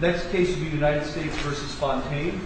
Next case will be United States v. Fontaine.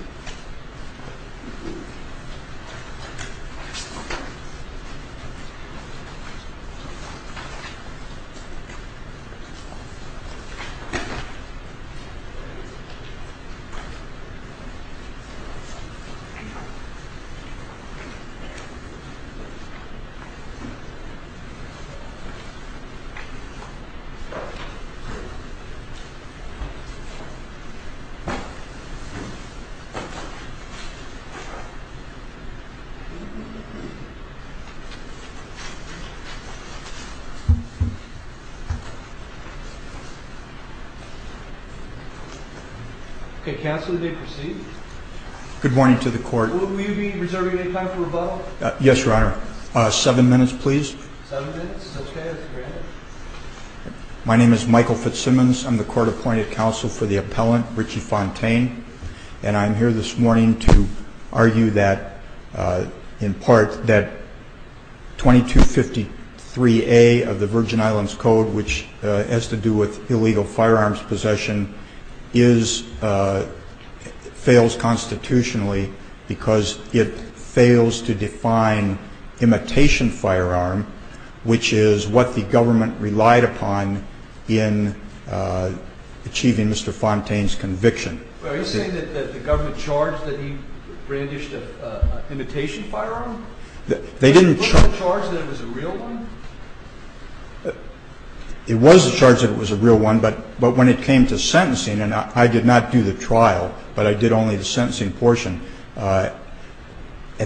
Michael Fitzsimmons Good morning to the court. Will you be reserving any time for rebuttal? Yes, your honor. Seven minutes, please. Seven minutes? Okay, as granted. My name is Michael Fitzsimmons. I'm the court-appointed counsel for the appellant, Richie Fontaine. And I'm here this morning to argue that, in part, that 2253A of the Virgin Islands Code, which has to do with illegal firearms possession, fails constitutionally because it fails to define imitation firearm, which is what the government relied upon in achieving Mr. Fontaine's conviction. Are you saying that the government charged that he brandished an imitation firearm? They didn't charge that it was a real one? It was charged that it was a real one, but when it came to sentencing, and I did not do the trial, but I did only the sentencing portion, at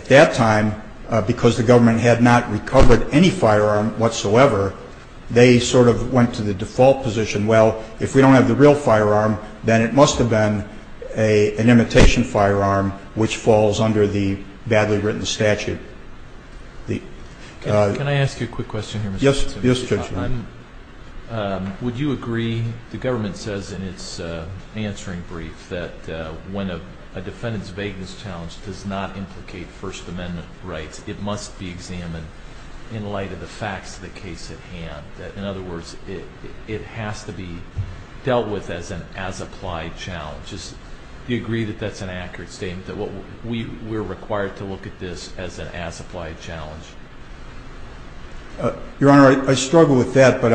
that time, because the government had not recovered any firearm whatsoever, they sort of went to the default position, well, if we don't have the real firearm, then it must have been an imitation firearm, which falls under the badly written statute. Can I ask you a quick question here, Mr. Fitzsimmons? Yes, Judge. Would you agree, the government says in its answering brief, that when a defendant's vagueness challenge does not implicate First Amendment rights, it must be examined in light of the facts of the case at hand? In other words, it has to be dealt with as an as-applied challenge. Do you agree that that's an accurate statement, that we're required to look at this as an as-applied challenge? Your Honor, I struggle with that, but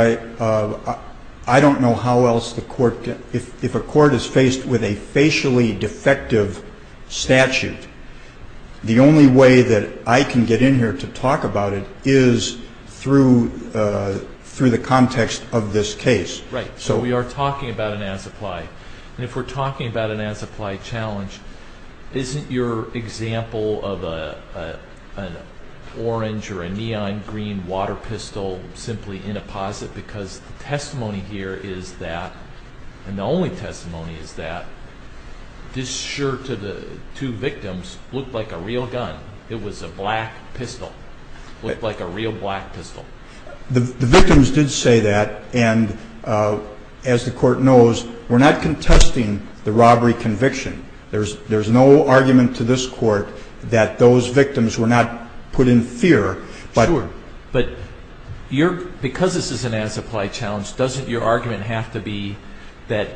I don't know how else the court can, if a court is faced with a facially defective statute, the only way that I can get in here to talk about it is through the context of this case. Right. So we are talking about an as-applied, and if we're talking about an as-applied challenge, isn't your example of an orange or a neon green water pistol simply inapposite? Because the testimony here is that, and the only testimony is that, this shirt of the two victims looked like a real gun. It was a black pistol. It looked like a real black pistol. The victims did say that, and as the court knows, we're not contesting the robbery conviction. There's no argument to this court that those victims were not put in fear. Sure, but because this is an as-applied challenge, doesn't your argument have to be that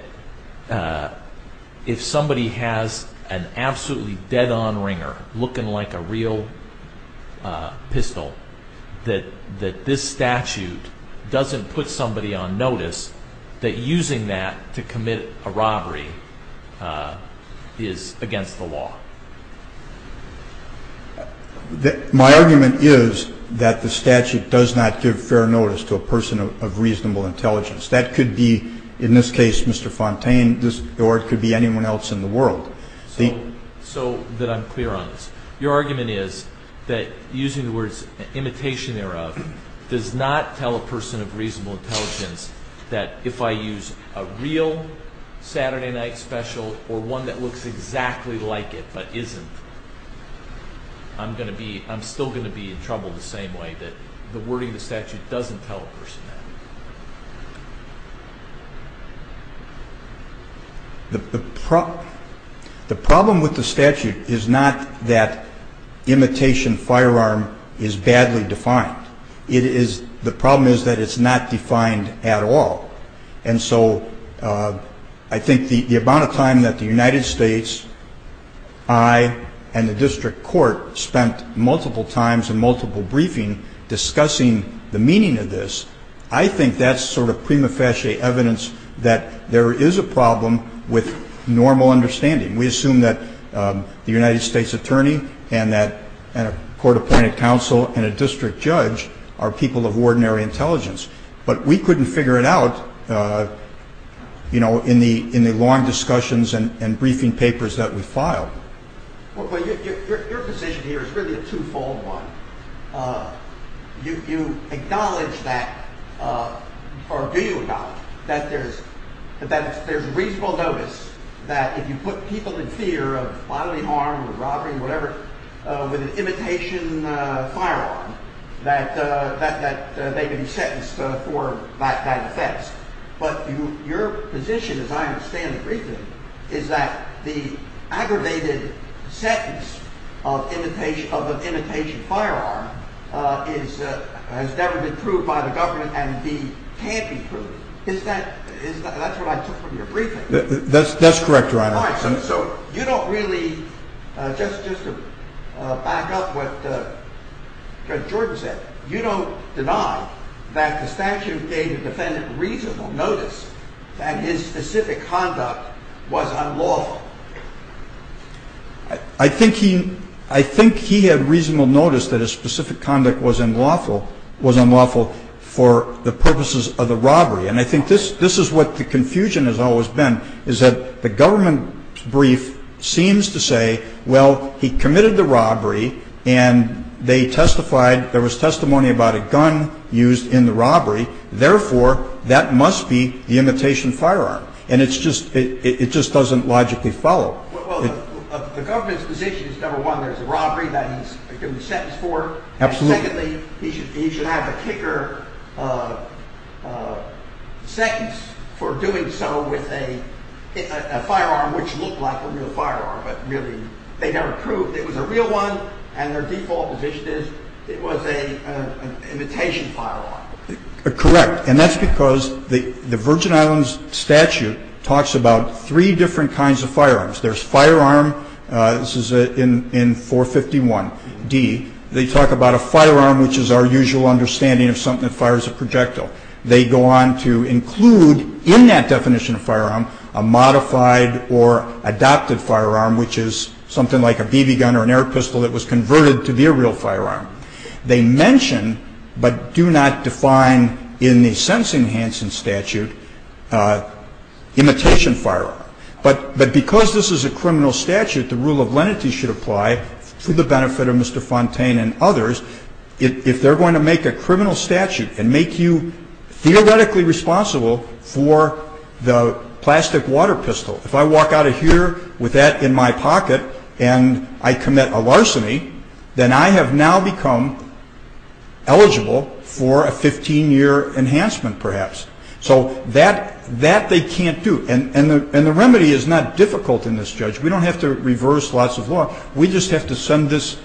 if somebody has an absolutely dead-on ringer looking like a real pistol, that this statute doesn't put somebody on notice, that using that to commit a robbery is against the law? My argument is that the statute does not give fair notice to a person of reasonable intelligence. That could be, in this case, Mr. Fontaine, or it could be anyone else in the world. So that I'm clear on this. Your argument is that using the words imitation thereof does not tell a person of reasonable intelligence that if I use a real Saturday night special or one that looks exactly like it, but isn't, I'm still going to be in trouble the same way. The wording of the statute doesn't tell a person that. The problem with the statute is not that imitation firearm is badly defined. The problem is that it's not defined at all. And so I think the amount of time that the United States, I, and the district court spent multiple times in multiple briefings discussing the meaning of this, I think that's sort of prima facie evidence that there is a problem with normal understanding. We assume that the United States attorney and a court-appointed counsel and a district judge are people of ordinary intelligence. But we couldn't figure it out in the long discussions and briefing papers that we filed. Your position here is really a two-fold one. You acknowledge that, or do you acknowledge that there's reasonable notice that if you put people in fear of bodily harm or robbery, whatever, with an imitation firearm, that they can be sentenced for that offense. But your position, as I understand the briefing, is that the aggravated sentence of an imitation firearm has never been proved by the government and can't be proved. That's what I took from your briefing. That's correct, Your Honor. All right, so you don't really, just to back up what Judge Jordan said, you don't deny that the statute gave the defendant reasonable notice that his specific conduct was unlawful. I think he had reasonable notice that his specific conduct was unlawful for the purposes of the robbery. And I think this is what the confusion has always been, is that the government brief seems to say, well, he committed the robbery and they testified, there was testimony about a gun used in the robbery. Therefore, that must be the imitation firearm. And it just doesn't logically follow. Well, the government's position is, number one, there's a robbery that he's going to be sentenced for. Absolutely. And secondly, he should have a kicker sentence for doing so with a firearm which looked like a real firearm but really they never proved it was a real one. And their default position is it was an imitation firearm. Correct. And that's because the Virgin Islands statute talks about three different kinds of firearms. There's firearm, this is in 451D. They talk about a firearm which is our usual understanding of something that fires a projectile. They go on to include in that definition of firearm a modified or adopted firearm, which is something like a BB gun or an air pistol that was converted to be a real firearm. They mention but do not define in the sentencing Hansen statute imitation firearm. But because this is a criminal statute, the rule of lenity should apply for the benefit of Mr. Fontaine and others. If they're going to make a criminal statute and make you theoretically responsible for the plastic water pistol, if I walk out of here with that in my pocket and I commit a larceny, then I have now become eligible for a 15-year enhancement perhaps. So that they can't do. And the remedy is not difficult in this, Judge. We don't have to reverse lots of law. We just have to send this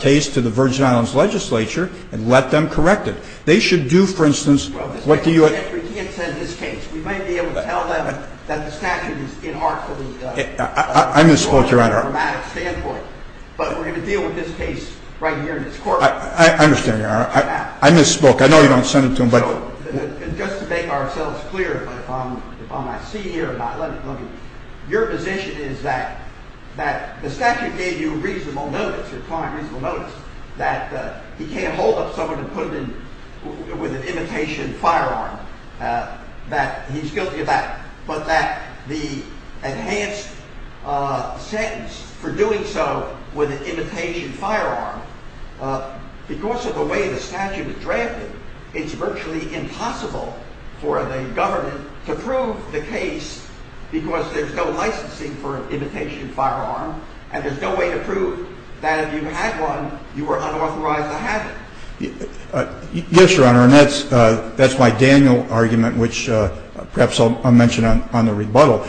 case to the Virgin Islands legislature and let them correct it. They should do, for instance, what do you... Well, we can't send this case. We might be able to tell them that the statute is in our... I misspoke, Your Honor. From a diplomatic standpoint. But we're going to deal with this case right here in this courtroom. I understand, Your Honor. I misspoke. I know you don't send it to them, but... Just to make ourselves clear, if I might see here or not, let me... Your position is that the statute gave you reasonable notice, a fine reasonable notice, that he can't hold up someone with an imitation firearm, that he's guilty of that, but that the enhanced sentence for doing so with an imitation firearm, because of the way the statute is drafted, it's virtually impossible for the government to prove the case because there's no licensing for an imitation firearm, and there's no way to prove that if you had one, you were unauthorized to have it. Yes, Your Honor, and that's my Daniel argument, which perhaps I'll mention on the rebuttal.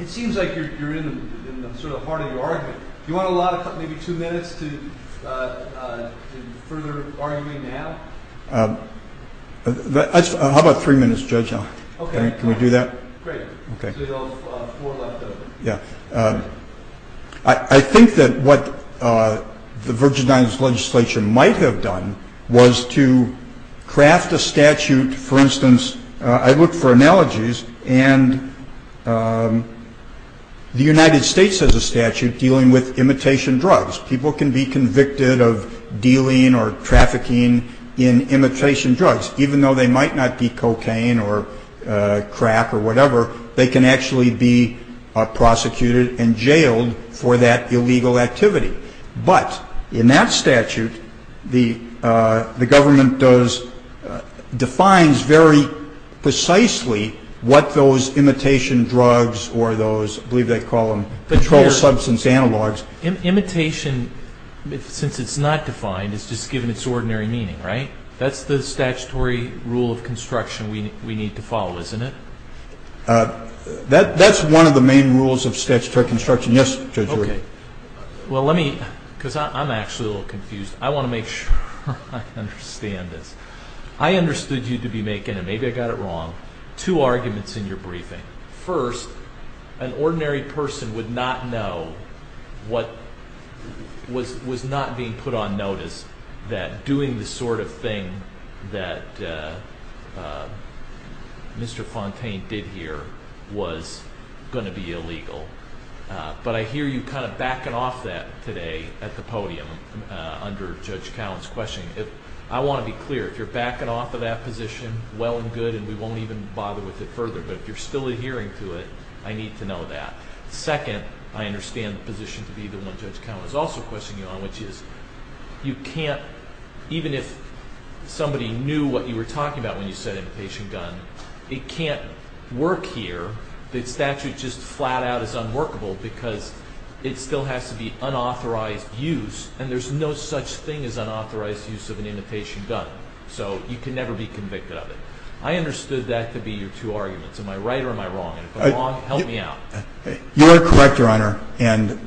It seems like you're in the sort of heart of your argument. Do you want a lot of time, maybe two minutes, to further arguing now? How about three minutes, Judge? Okay. Can we do that? Great. Okay. So there's four left of it. Yeah. I think that what the Virgin Islands Legislature might have done was to craft a statute, for instance, I looked for analogies, and the United States has a statute dealing with imitation drugs. People can be convicted of dealing or trafficking in imitation drugs, even though they might not be cocaine or crack or whatever, they can actually be prosecuted and jailed for that illegal activity. But in that statute, the government defines very precisely what those imitation drugs or those, I believe they call them, controlled substance analogs. Imitation, since it's not defined, it's just given its ordinary meaning, right? That's the statutory rule of construction we need to follow, isn't it? That's one of the main rules of statutory construction. Yes, Judge. Well, let me, because I'm actually a little confused. I want to make sure I understand this. I understood you to be making, and maybe I got it wrong, two arguments in your briefing. First, an ordinary person would not know what was not being put on notice that doing the sort of thing that Mr. Fontaine did here was going to be illegal. But I hear you kind of backing off that today at the podium under Judge Cowen's question. I want to be clear. If you're backing off of that position, well and good, and we won't even bother with it further. But if you're still adhering to it, I need to know that. Second, I understand the position to be the one Judge Cowen is also questioning you on, which is you can't, even if somebody knew what you were talking about when you said imitation gun, it can't work here. The statute just flat out is unworkable because it still has to be unauthorized use, and there's no such thing as unauthorized use of an imitation gun. So you can never be convicted of it. I understood that to be your two arguments. Am I right or am I wrong? And if I'm wrong, help me out. You are correct, Your Honor, in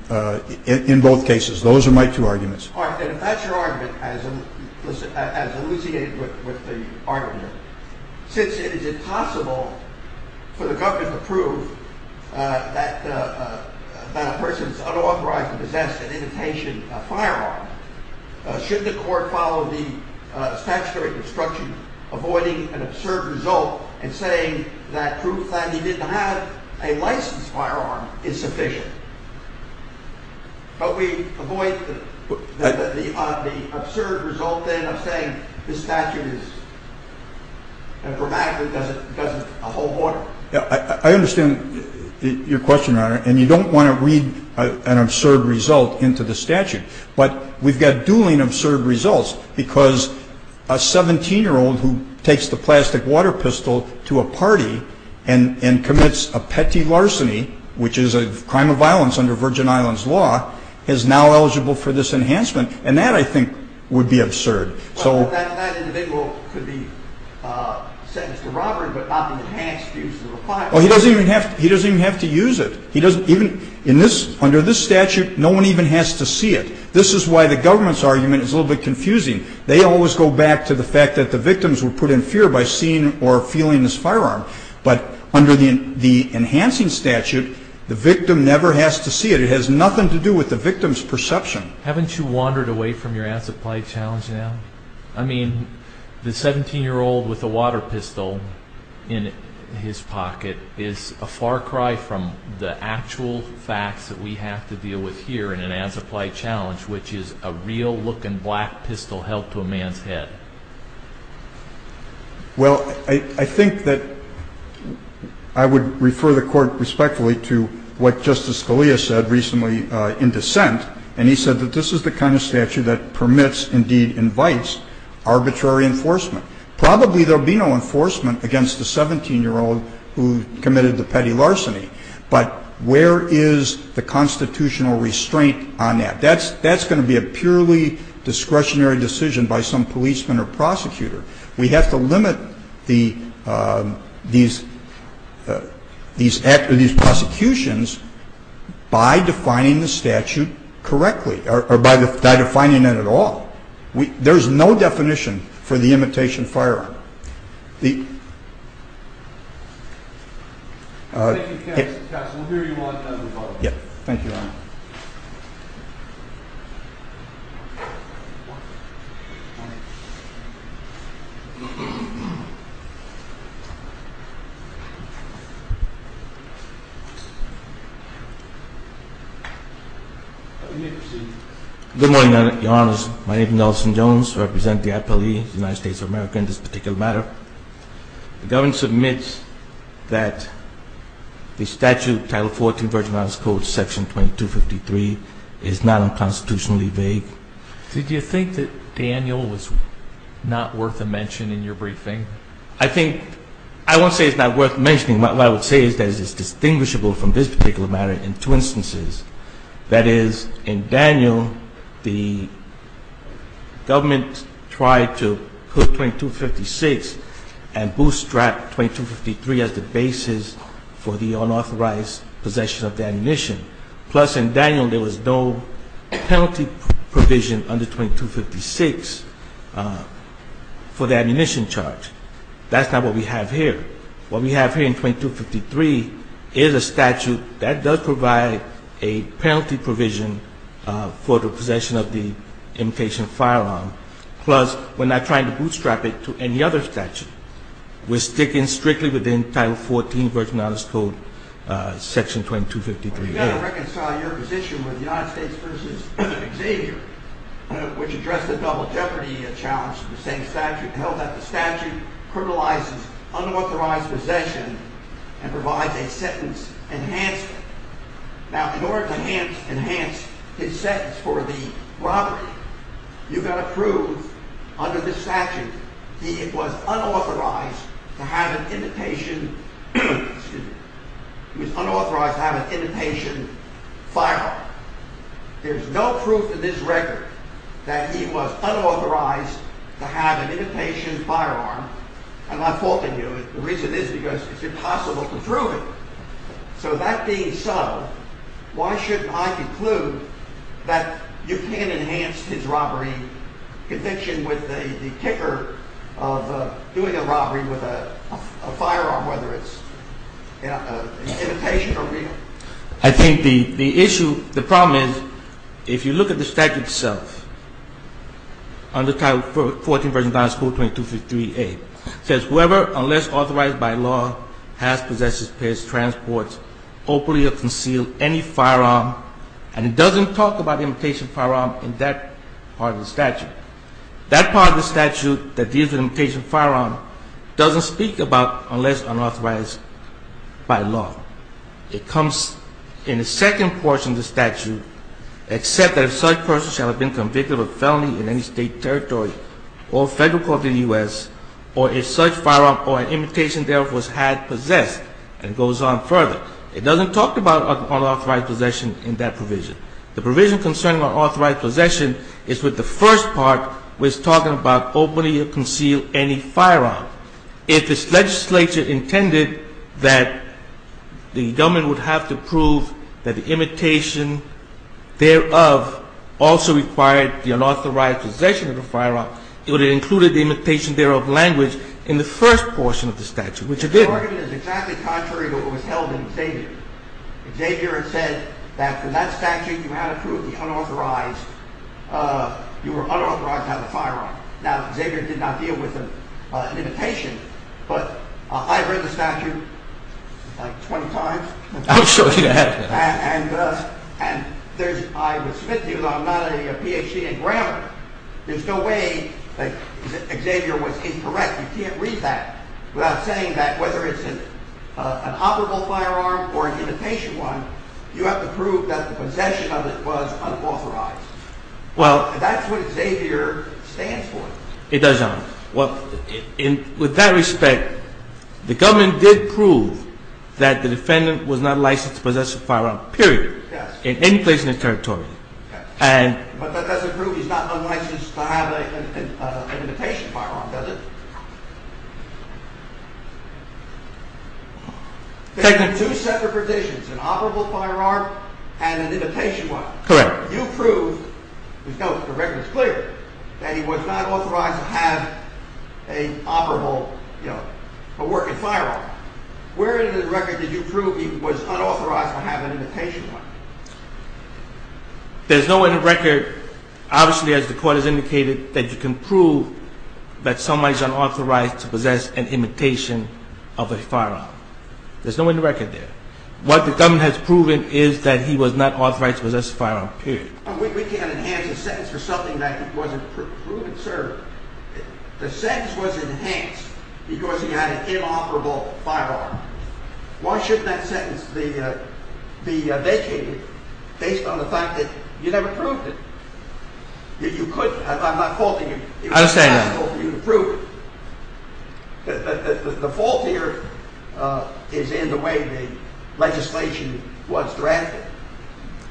both cases. Those are my two arguments. All right. And if that's your argument, as elucidated with the argument, since it is impossible for the government to prove that a person is unauthorized to possess an imitation firearm, should the court follow the statutory instruction avoiding an absurd result and saying that proof that he didn't have a licensed firearm is sufficient? But we avoid the absurd result then of saying the statute is informatic because it doesn't hold water. I understand your question, Your Honor, and you don't want to read an absurd result into the statute. But we've got dueling absurd results because a 17-year-old who takes the plastic water pistol to a party and commits a petty larceny, which is a crime of violence under Virgin Islands law, is now eligible for this enhancement. And that, I think, would be absurd. That individual could be sentenced to robbery but not be enhanced due to the requirement. He doesn't even have to use it. Under this statute, no one even has to see it. This is why the government's argument is a little bit confusing. They always go back to the fact that the victims were put in fear by seeing or feeling this firearm. But under the enhancing statute, the victim never has to see it. It has nothing to do with the victim's perception. Haven't you wandered away from your as-applied challenge now? I mean, the 17-year-old with the water pistol in his pocket is a far cry from the actual facts that we have to deal with here in an as-applied challenge, which is a real-looking black pistol held to a man's head. Well, I think that I would refer the Court respectfully to what Justice Scalia said recently in dissent, and he said that this is the kind of statute that permits, indeed invites, arbitrary enforcement. Probably there will be no enforcement against the 17-year-old who committed the petty larceny, but where is the constitutional restraint on that? That's going to be a purely discretionary decision by some policeman or prosecutor. We have to limit these prosecutions by defining the statute correctly or by defining it at all. There's no definition for the imitation firearm. Thank you, counsel. Counsel, we'll hear you one at a time. Thank you, Your Honor. You may proceed. Good morning, Your Honors. My name is Nelson Jones. I represent the I.P.L.E., the United States of America, in this particular matter. The government submits that the statute, Title 14, Virgin Islands Code, Section 2253, is not unconstitutionally vague. Did you think that Daniel was not worth a mention in your briefing? I think – I won't say it's not worth mentioning. What I would say is that it's distinguishable from this particular matter in two instances. That is, in Daniel, the government tried to put 2256 and bootstrap 2253 as the basis for the unauthorized possession of the ammunition. Plus, in Daniel, there was no penalty provision under 2256 for the ammunition charge. That's not what we have here. What we have here in 2253 is a statute that does provide a penalty provision for the possession of the imitation firearm. Plus, we're not trying to bootstrap it to any other statute. We're sticking strictly with Title 14, Virgin Islands Code, Section 2253. You've got to reconcile your position with the United States v. Xavier, which addressed the double jeopardy challenge in the same statute. It held that the statute criminalizes unauthorized possession and provides a sentence enhancement. Now, in order to enhance his sentence for the robbery, you've got to prove, under this statute, that he was unauthorized to have an imitation firearm. There's no proof in this record that he was unauthorized to have an imitation firearm. I'm not faulting you. The reason is because it's impossible to prove it. So, that being so, why shouldn't I conclude that you can enhance his robbery conviction with the kicker of doing a robbery with a firearm, whether it's an imitation or real? I think the issue, the problem is, if you look at the statute itself, under Title 14, Virgin Islands Code, 2253A, it says, whoever, unless authorized by law, has possessed, dispatched, transported, openly or concealed any firearm, and it doesn't talk about imitation firearm in that part of the statute. That part of the statute that deals with imitation firearm doesn't speak about unless unauthorized by law. It comes in the second portion of the statute, except that if such person shall have been convicted of a felony in any state, territory, or federal court in the U.S., or if such firearm or imitation thereof was had possessed, and goes on further. It doesn't talk about unauthorized possession in that provision. The provision concerning unauthorized possession is what the first part was talking about, openly or concealed any firearm. If this legislature intended that the gentleman would have to prove that the imitation thereof also required the unauthorized possession of the firearm, it would have included the imitation thereof language in the first portion of the statute, which it didn't. Your argument is exactly contrary to what was held in Xavier. Xavier had said that in that statute you had approved the unauthorized, you were unauthorized to have a firearm. Now, Xavier did not deal with an imitation, but I've read the statute like 20 times. I would show you that. And I would submit to you that I'm not a PhD in grammar. There's no way that Xavier was incorrect. You can't read that without saying that whether it's an operable firearm or an imitation one, you have to prove that the possession of it was unauthorized. That's what Xavier stands for. It does not. With that respect, the government did prove that the defendant was not licensed to possess a firearm, period, in any place in the territory. But that doesn't prove he's not unlicensed to have an imitation firearm, does it? There are two separate provisions, an operable firearm and an imitation one. Correct. But you proved, the record is clear, that he was not authorized to have an operable, you know, a working firearm. Where in the record did you prove he was unauthorized to have an imitation one? There's nowhere in the record, obviously as the court has indicated, that you can prove that somebody is unauthorized to possess an imitation of a firearm. There's nowhere in the record there. What the government has proven is that he was not authorized to possess a firearm, period. We can't enhance a sentence for something that wasn't proven, sir. The sentence was enhanced because he had an inoperable firearm. Why shouldn't that sentence be vacated based on the fact that you never proved it? I'm not faulting you. I understand that. I hope you can prove it. The fault here is in the way the legislation was drafted.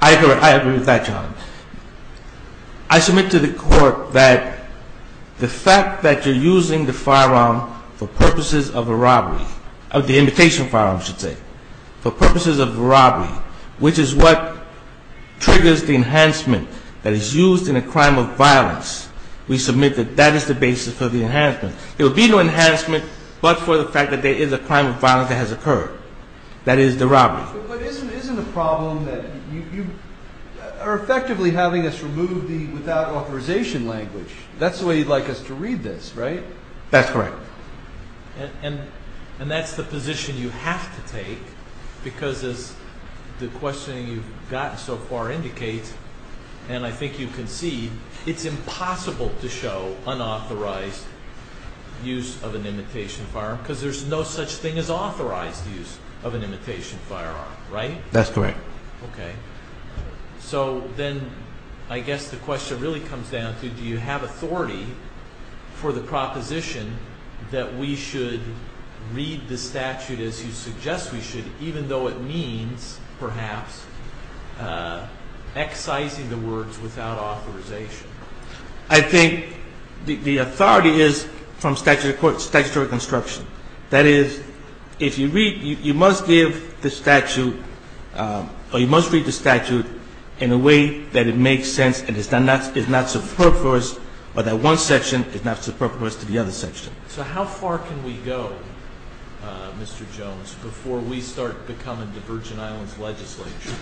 I agree with that, John. I submit to the court that the fact that you're using the firearm for purposes of a robbery, the imitation firearm, I should say, for purposes of a robbery, which is what triggers the enhancement that is used in a crime of violence, we submit that that is the basis for the enhancement. There would be no enhancement but for the fact that there is a crime of violence that has occurred, that is the robbery. But isn't the problem that you are effectively having us remove the without authorization language? That's the way you'd like us to read this, right? That's correct. And that's the position you have to take because as the questioning you've gotten so far indicates, and I think you can see, it's impossible to show unauthorized use of an imitation firearm because there's no such thing as authorized use of an imitation firearm, right? That's correct. Okay. So then I guess the question really comes down to do you have authority for the proposition that we should read the statute as you suggest we should, even though it means, perhaps, excising the words without authorization? I think the authority is from statutory construction. That is, if you read, you must give the statute or you must read the statute in a way that it makes sense and is not superfluous or that one section is not superfluous to the other section. So how far can we go, Mr. Jones, before we start becoming the Virgin Islands legislature?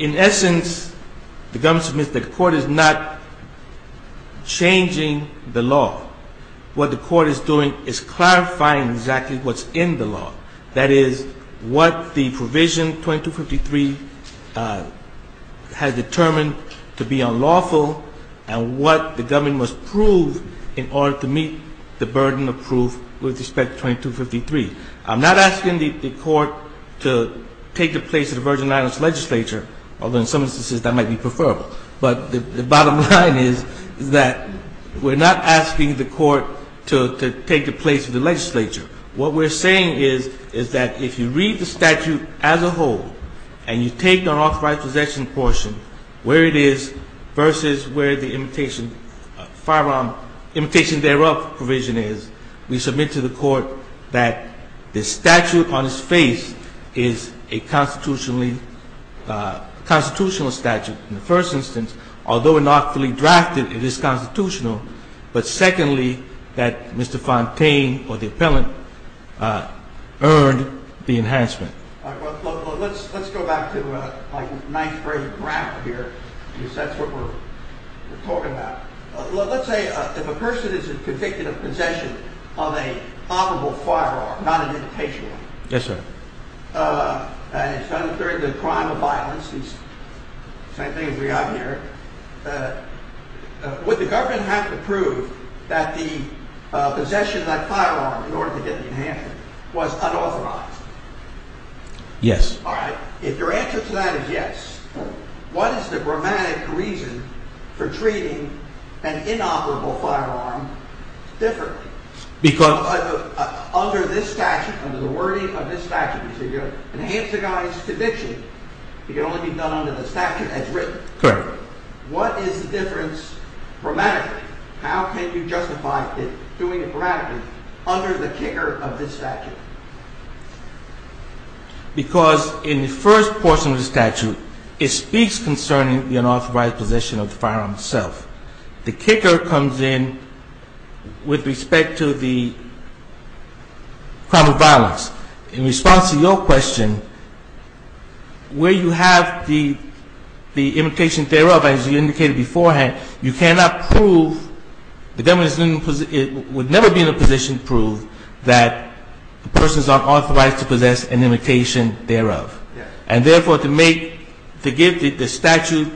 In essence, the government submits that the court is not changing the law. What the court is doing is clarifying exactly what's in the law, that is, what the provision 2253 has determined to be unlawful and what the government must prove in order to meet the burden of proof with respect to 2253. I'm not asking the court to take the place of the Virgin Islands legislature, although in some instances that might be preferable. But the bottom line is that we're not asking the court to take the place of the legislature. What we're saying is, is that if you read the statute as a whole and you take the unauthorized possession portion, where it is versus where the imitation firearm, imitation thereof provision is, we submit to the court that the statute on its face is a constitutional statute. In the first instance, although unlawfully drafted, it is constitutional. But secondly, that Mr. Fontaine or the appellant earned the enhancement. Let's go back to my ninth grade graph here, because that's what we're talking about. Let's say if a person is convicted of possession of a probable firearm, not an imitation one, and it's done during the crime of violence, the same thing as we have here, would the government have to prove that the possession of that firearm in order to get the enhancement was unauthorized? Yes. All right. If your answer to that is yes, what is the grammatic reason for treating an inoperable firearm differently? Because… Under this statute, under the wording of this statute, you say you enhance the guy's conviction. It can only be done under the statute as written. Correct. What is the difference grammatically? How can you justify doing it grammatically under the kicker of this statute? Because in the first portion of the statute, it speaks concerning the unauthorized possession of the firearm itself. The kicker comes in with respect to the crime of violence. In response to your question, where you have the imitation thereof, as you indicated beforehand, you cannot prove, the government would never be in a position to prove that the person is unauthorized to possess an imitation thereof. And therefore, to make, to give the statute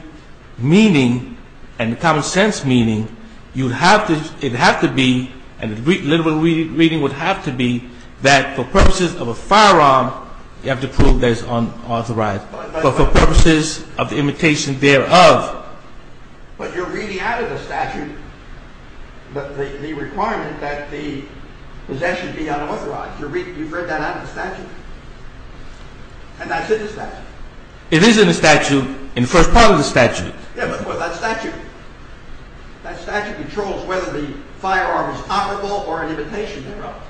meaning and the common sense meaning, it would have to be, and the literal meaning would have to be, that for purposes of a firearm, you have to prove that it's unauthorized. But for purposes of the imitation thereof… But you're reading out of the statute the requirement that the possession be unauthorized. You've read that out of the statute? And that's in the statute? It is in the statute, in the first part of the statute. Yeah, but that statute, that statute controls whether the firearm is operable or an imitation thereof.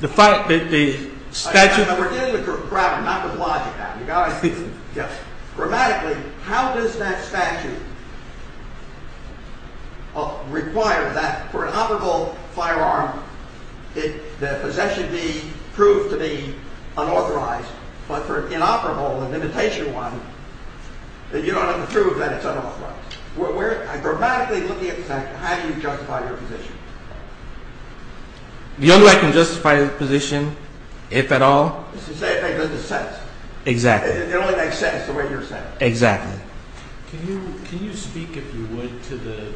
The statute… I'm forgetting the grammar, not the logic now. Grammatically, how does that statute require that for an operable firearm, the possession be proved to be unauthorized, but for an inoperable, an imitation one, that you don't have to prove that it's unauthorized? We're grammatically looking at the statute. How do you justify your position? The only way I can justify the position, if at all… Is to say it doesn't make sense. Exactly. It only makes sense the way you're saying it. Exactly. Can you speak, if you would, to the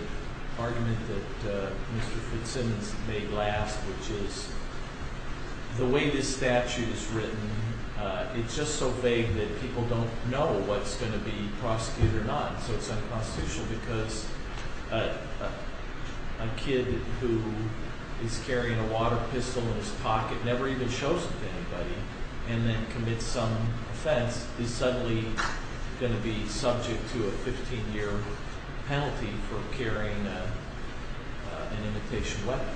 argument that Mr. Fitzsimmons made last, which is the way this statute is written, it's just so vague that people don't know what's going to be prosecuted or not. So it's unconstitutional because a kid who is carrying a water pistol in his pocket never even shows it to anybody, and then commits some offense, is suddenly going to be subject to a 15-year penalty for carrying an imitation weapon.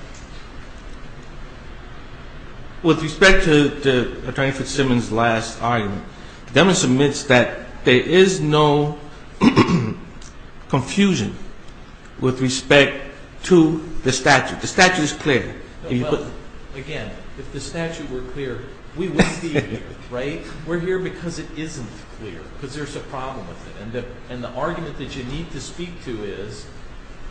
With respect to Attorney Fitzsimmons' last argument, Dennis admits that there is no confusion with respect to the statute. The statute is clear. Again, if the statute were clear, we wouldn't be here. We're here because it isn't clear. Because there's a problem with it. And the argument that you need to speak to is,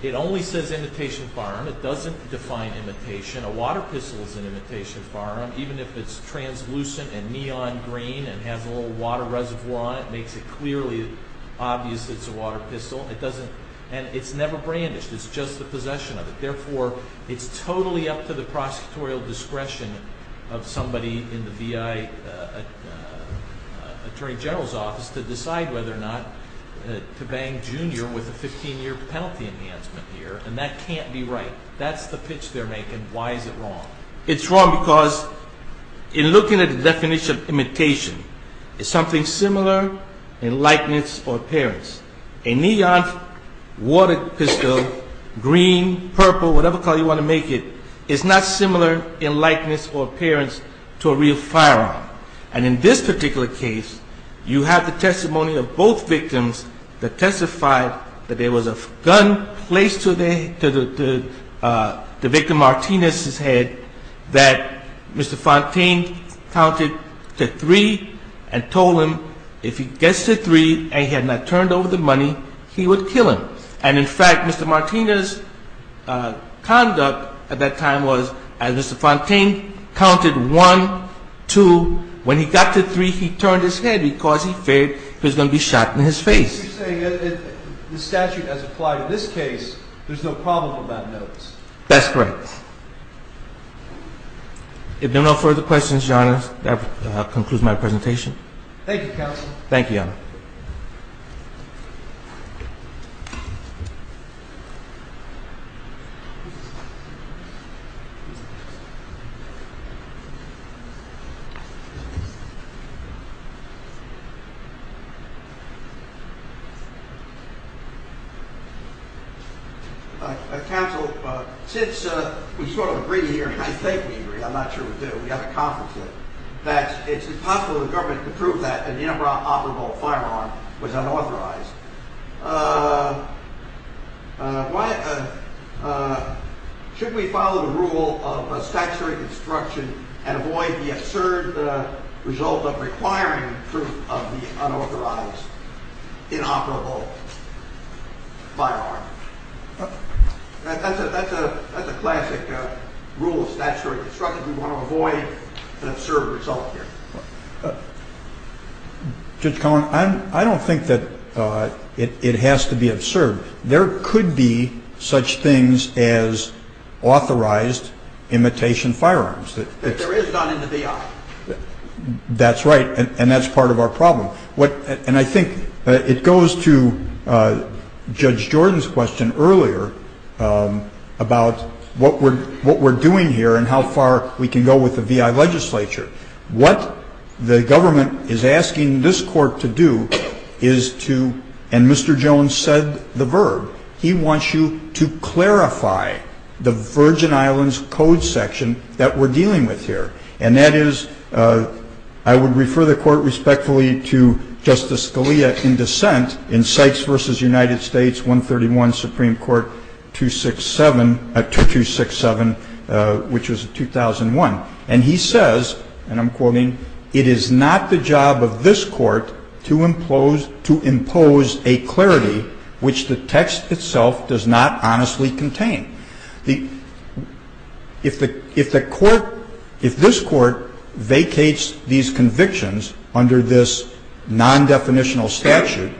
it only says imitation firearm. It doesn't define imitation. A water pistol is an imitation firearm. Even if it's translucent and neon green and has a little water reservoir on it, it makes it clearly obvious it's a water pistol. And it's never brandished. It's just the possession of it. Therefore, it's totally up to the prosecutorial discretion of somebody in the V.I. Attorney General's office to decide whether or not to bang Junior with a 15-year penalty enhancement here. And that can't be right. That's the pitch they're making. Why is it wrong? It's wrong because in looking at the definition of imitation, it's something similar in likeness or appearance. A neon water pistol, green, purple, whatever color you want to make it, is not similar in likeness or appearance to a real firearm. And in this particular case, you have the testimony of both victims that testified that there was a gun placed to the victim Martinez's head, that Mr. Fontaine counted to three and told him, if he gets to three and he had not turned over the money, he would kill him. And, in fact, Mr. Martinez's conduct at that time was, as Mr. Fontaine counted one, two, when he got to three, he turned his head because he feared he was going to be shot in his face. You're saying if the statute has applied in this case, there's no problem about notice. That's correct. If there are no further questions, Your Honor, that concludes my presentation. Thank you, Counsel. Thank you, Your Honor. Counsel, since we sort of agree here, and I think we agree, I'm not sure we do, but we haven't conferenced it, that it's impossible for the government to prove that an inoperable firearm was unauthorized. Should we follow the rule of statutory construction and avoid the absurd result of requiring proof of the unauthorized inoperable firearm? That's a classic rule of statutory construction. We want to avoid an absurd result here. Judge Cohen, I don't think that it has to be absurd. There could be such things as authorized imitation firearms. There is none in the DI. That's right, and that's part of our problem. And I think it goes to Judge Jordan's question earlier about what we're doing here and how far we can go with the VI legislature. What the government is asking this Court to do is to, and Mr. Jones said the verb, he wants you to clarify the Virgin Islands Code section that we're dealing with here, and that is I would refer the Court respectfully to Justice Scalia in dissent in Sykes v. United States 131, Supreme Court 267, which was 2001. And he says, and I'm quoting, it is not the job of this Court to impose a clarity which the text itself does not honestly contain. If the Court, if this Court vacates these convictions under this non-definitional statute,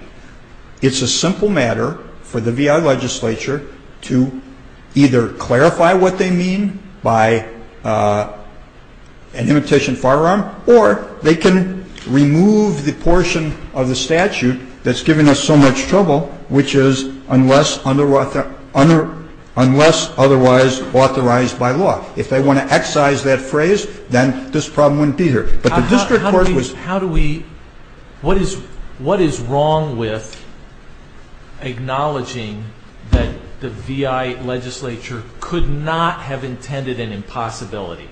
it's a simple matter for the VI legislature to either clarify what they mean by an imitation firearm or they can remove the portion of the statute that's giving us so much trouble, which is unless otherwise authorized by law. If they want to excise that phrase, then this problem wouldn't be here. But the district court was... How do we, what is wrong with acknowledging that the VI legislature could not have intended an impossibility?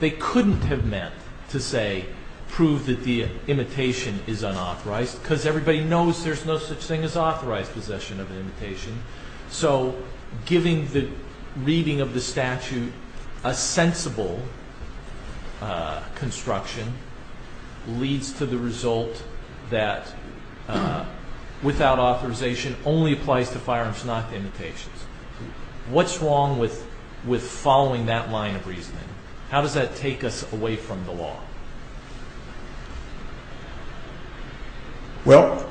They couldn't have meant to say, prove that the imitation is unauthorized because everybody knows there's no such thing as authorized possession of an imitation. So giving the reading of the statute a sensible construction leads to the result that without authorization only applies to firearms, not to imitations. What's wrong with following that line of reasoning? How does that take us away from the law? Well,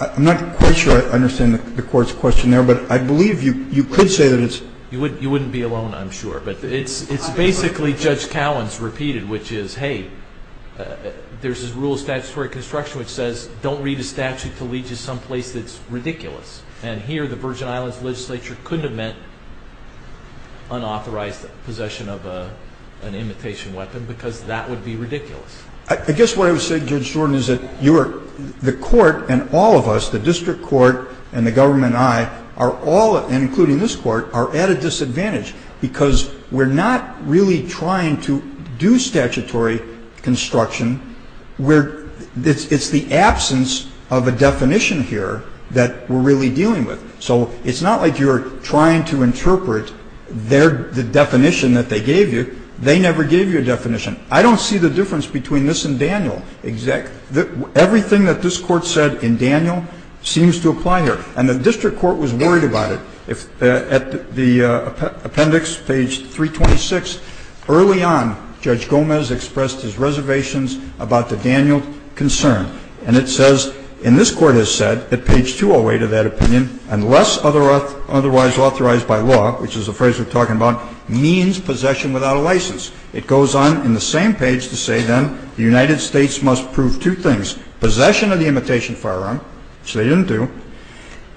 I'm not quite sure I understand the Court's question there, but I believe you could say that it's... You wouldn't be alone, I'm sure. But it's basically Judge Cowan's repeated, which is, hey, there's this rule of statutory construction which says don't read a statute to lead you someplace that's ridiculous. And here the Virgin Islands legislature couldn't have meant unauthorized possession of an imitation weapon because that would be ridiculous. I guess what I would say, Judge Jordan, is that you are... The Court and all of us, the district court and the government and I, are all, and including this Court, are at a disadvantage because we're not really trying to do statutory construction. It's the absence of a definition here that we're really dealing with. So it's not like you're trying to interpret the definition that they gave you. They never gave you a definition. I don't see the difference between this and Daniel. Everything that this Court said in Daniel seems to apply here. And the district court was worried about it. At the appendix, page 326, early on, Judge Gomez expressed his reservations about the Daniel concern. And it says, and this Court has said at page 208 of that opinion, unless otherwise authorized by law, which is the phrase we're talking about, means possession without a license. It goes on in the same page to say, then, the United States must prove two things, possession of the imitation firearm, which they didn't do,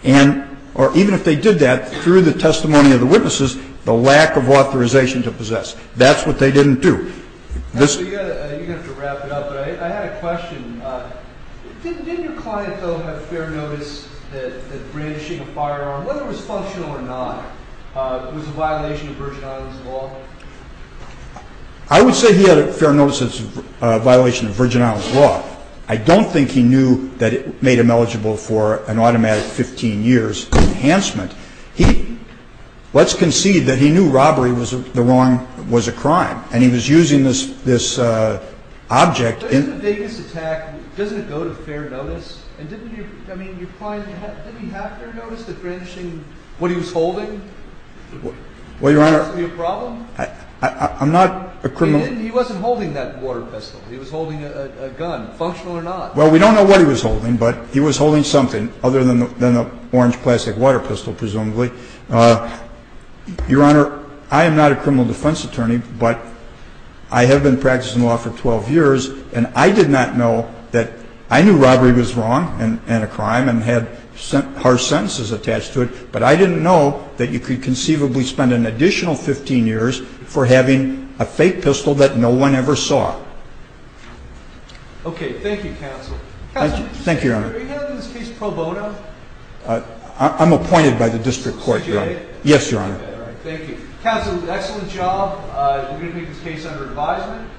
and or even if they did that, through the testimony of the witnesses, the lack of authorization to possess. That's what they didn't do. This ---- You're going to have to wrap it up, but I had a question. Didn't your client, though, have fair notice that brandishing a firearm, whether it was functional or not, was a violation of Virgin Islands law? I would say he had a fair notice as a violation of Virgin Islands law. I don't think he knew that it made him eligible for an automatic 15 years enhancement. He ---- let's concede that he knew robbery was the wrong ---- was a crime. And he was using this object in ---- But in the Davis attack, doesn't it go to fair notice? And didn't your ---- I mean, your client, didn't he have fair notice that brandishing what he was holding? Well, Your Honor ---- Would that be a problem? I'm not a criminal ---- He wasn't holding that water pistol. He was holding a gun. Functional or not. Well, we don't know what he was holding, but he was holding something other than the orange plastic water pistol, presumably. Your Honor, I am not a criminal defense attorney, but I have been practicing law for 12 years, and I did not know that ---- I knew robbery was wrong and a crime and had harsh sentences attached to it, but I didn't know that you could conceivably spend an additional 15 years for having a fake pistol that no one ever saw. Okay. Thank you, counsel. Counsel. Thank you, Your Honor. Your Honor, are you handling this case pro bono? I'm appointed by the district court, Your Honor. Did you get it? Yes, Your Honor. All right. Thank you. Counsel, excellent job. You're going to make this case under advisement.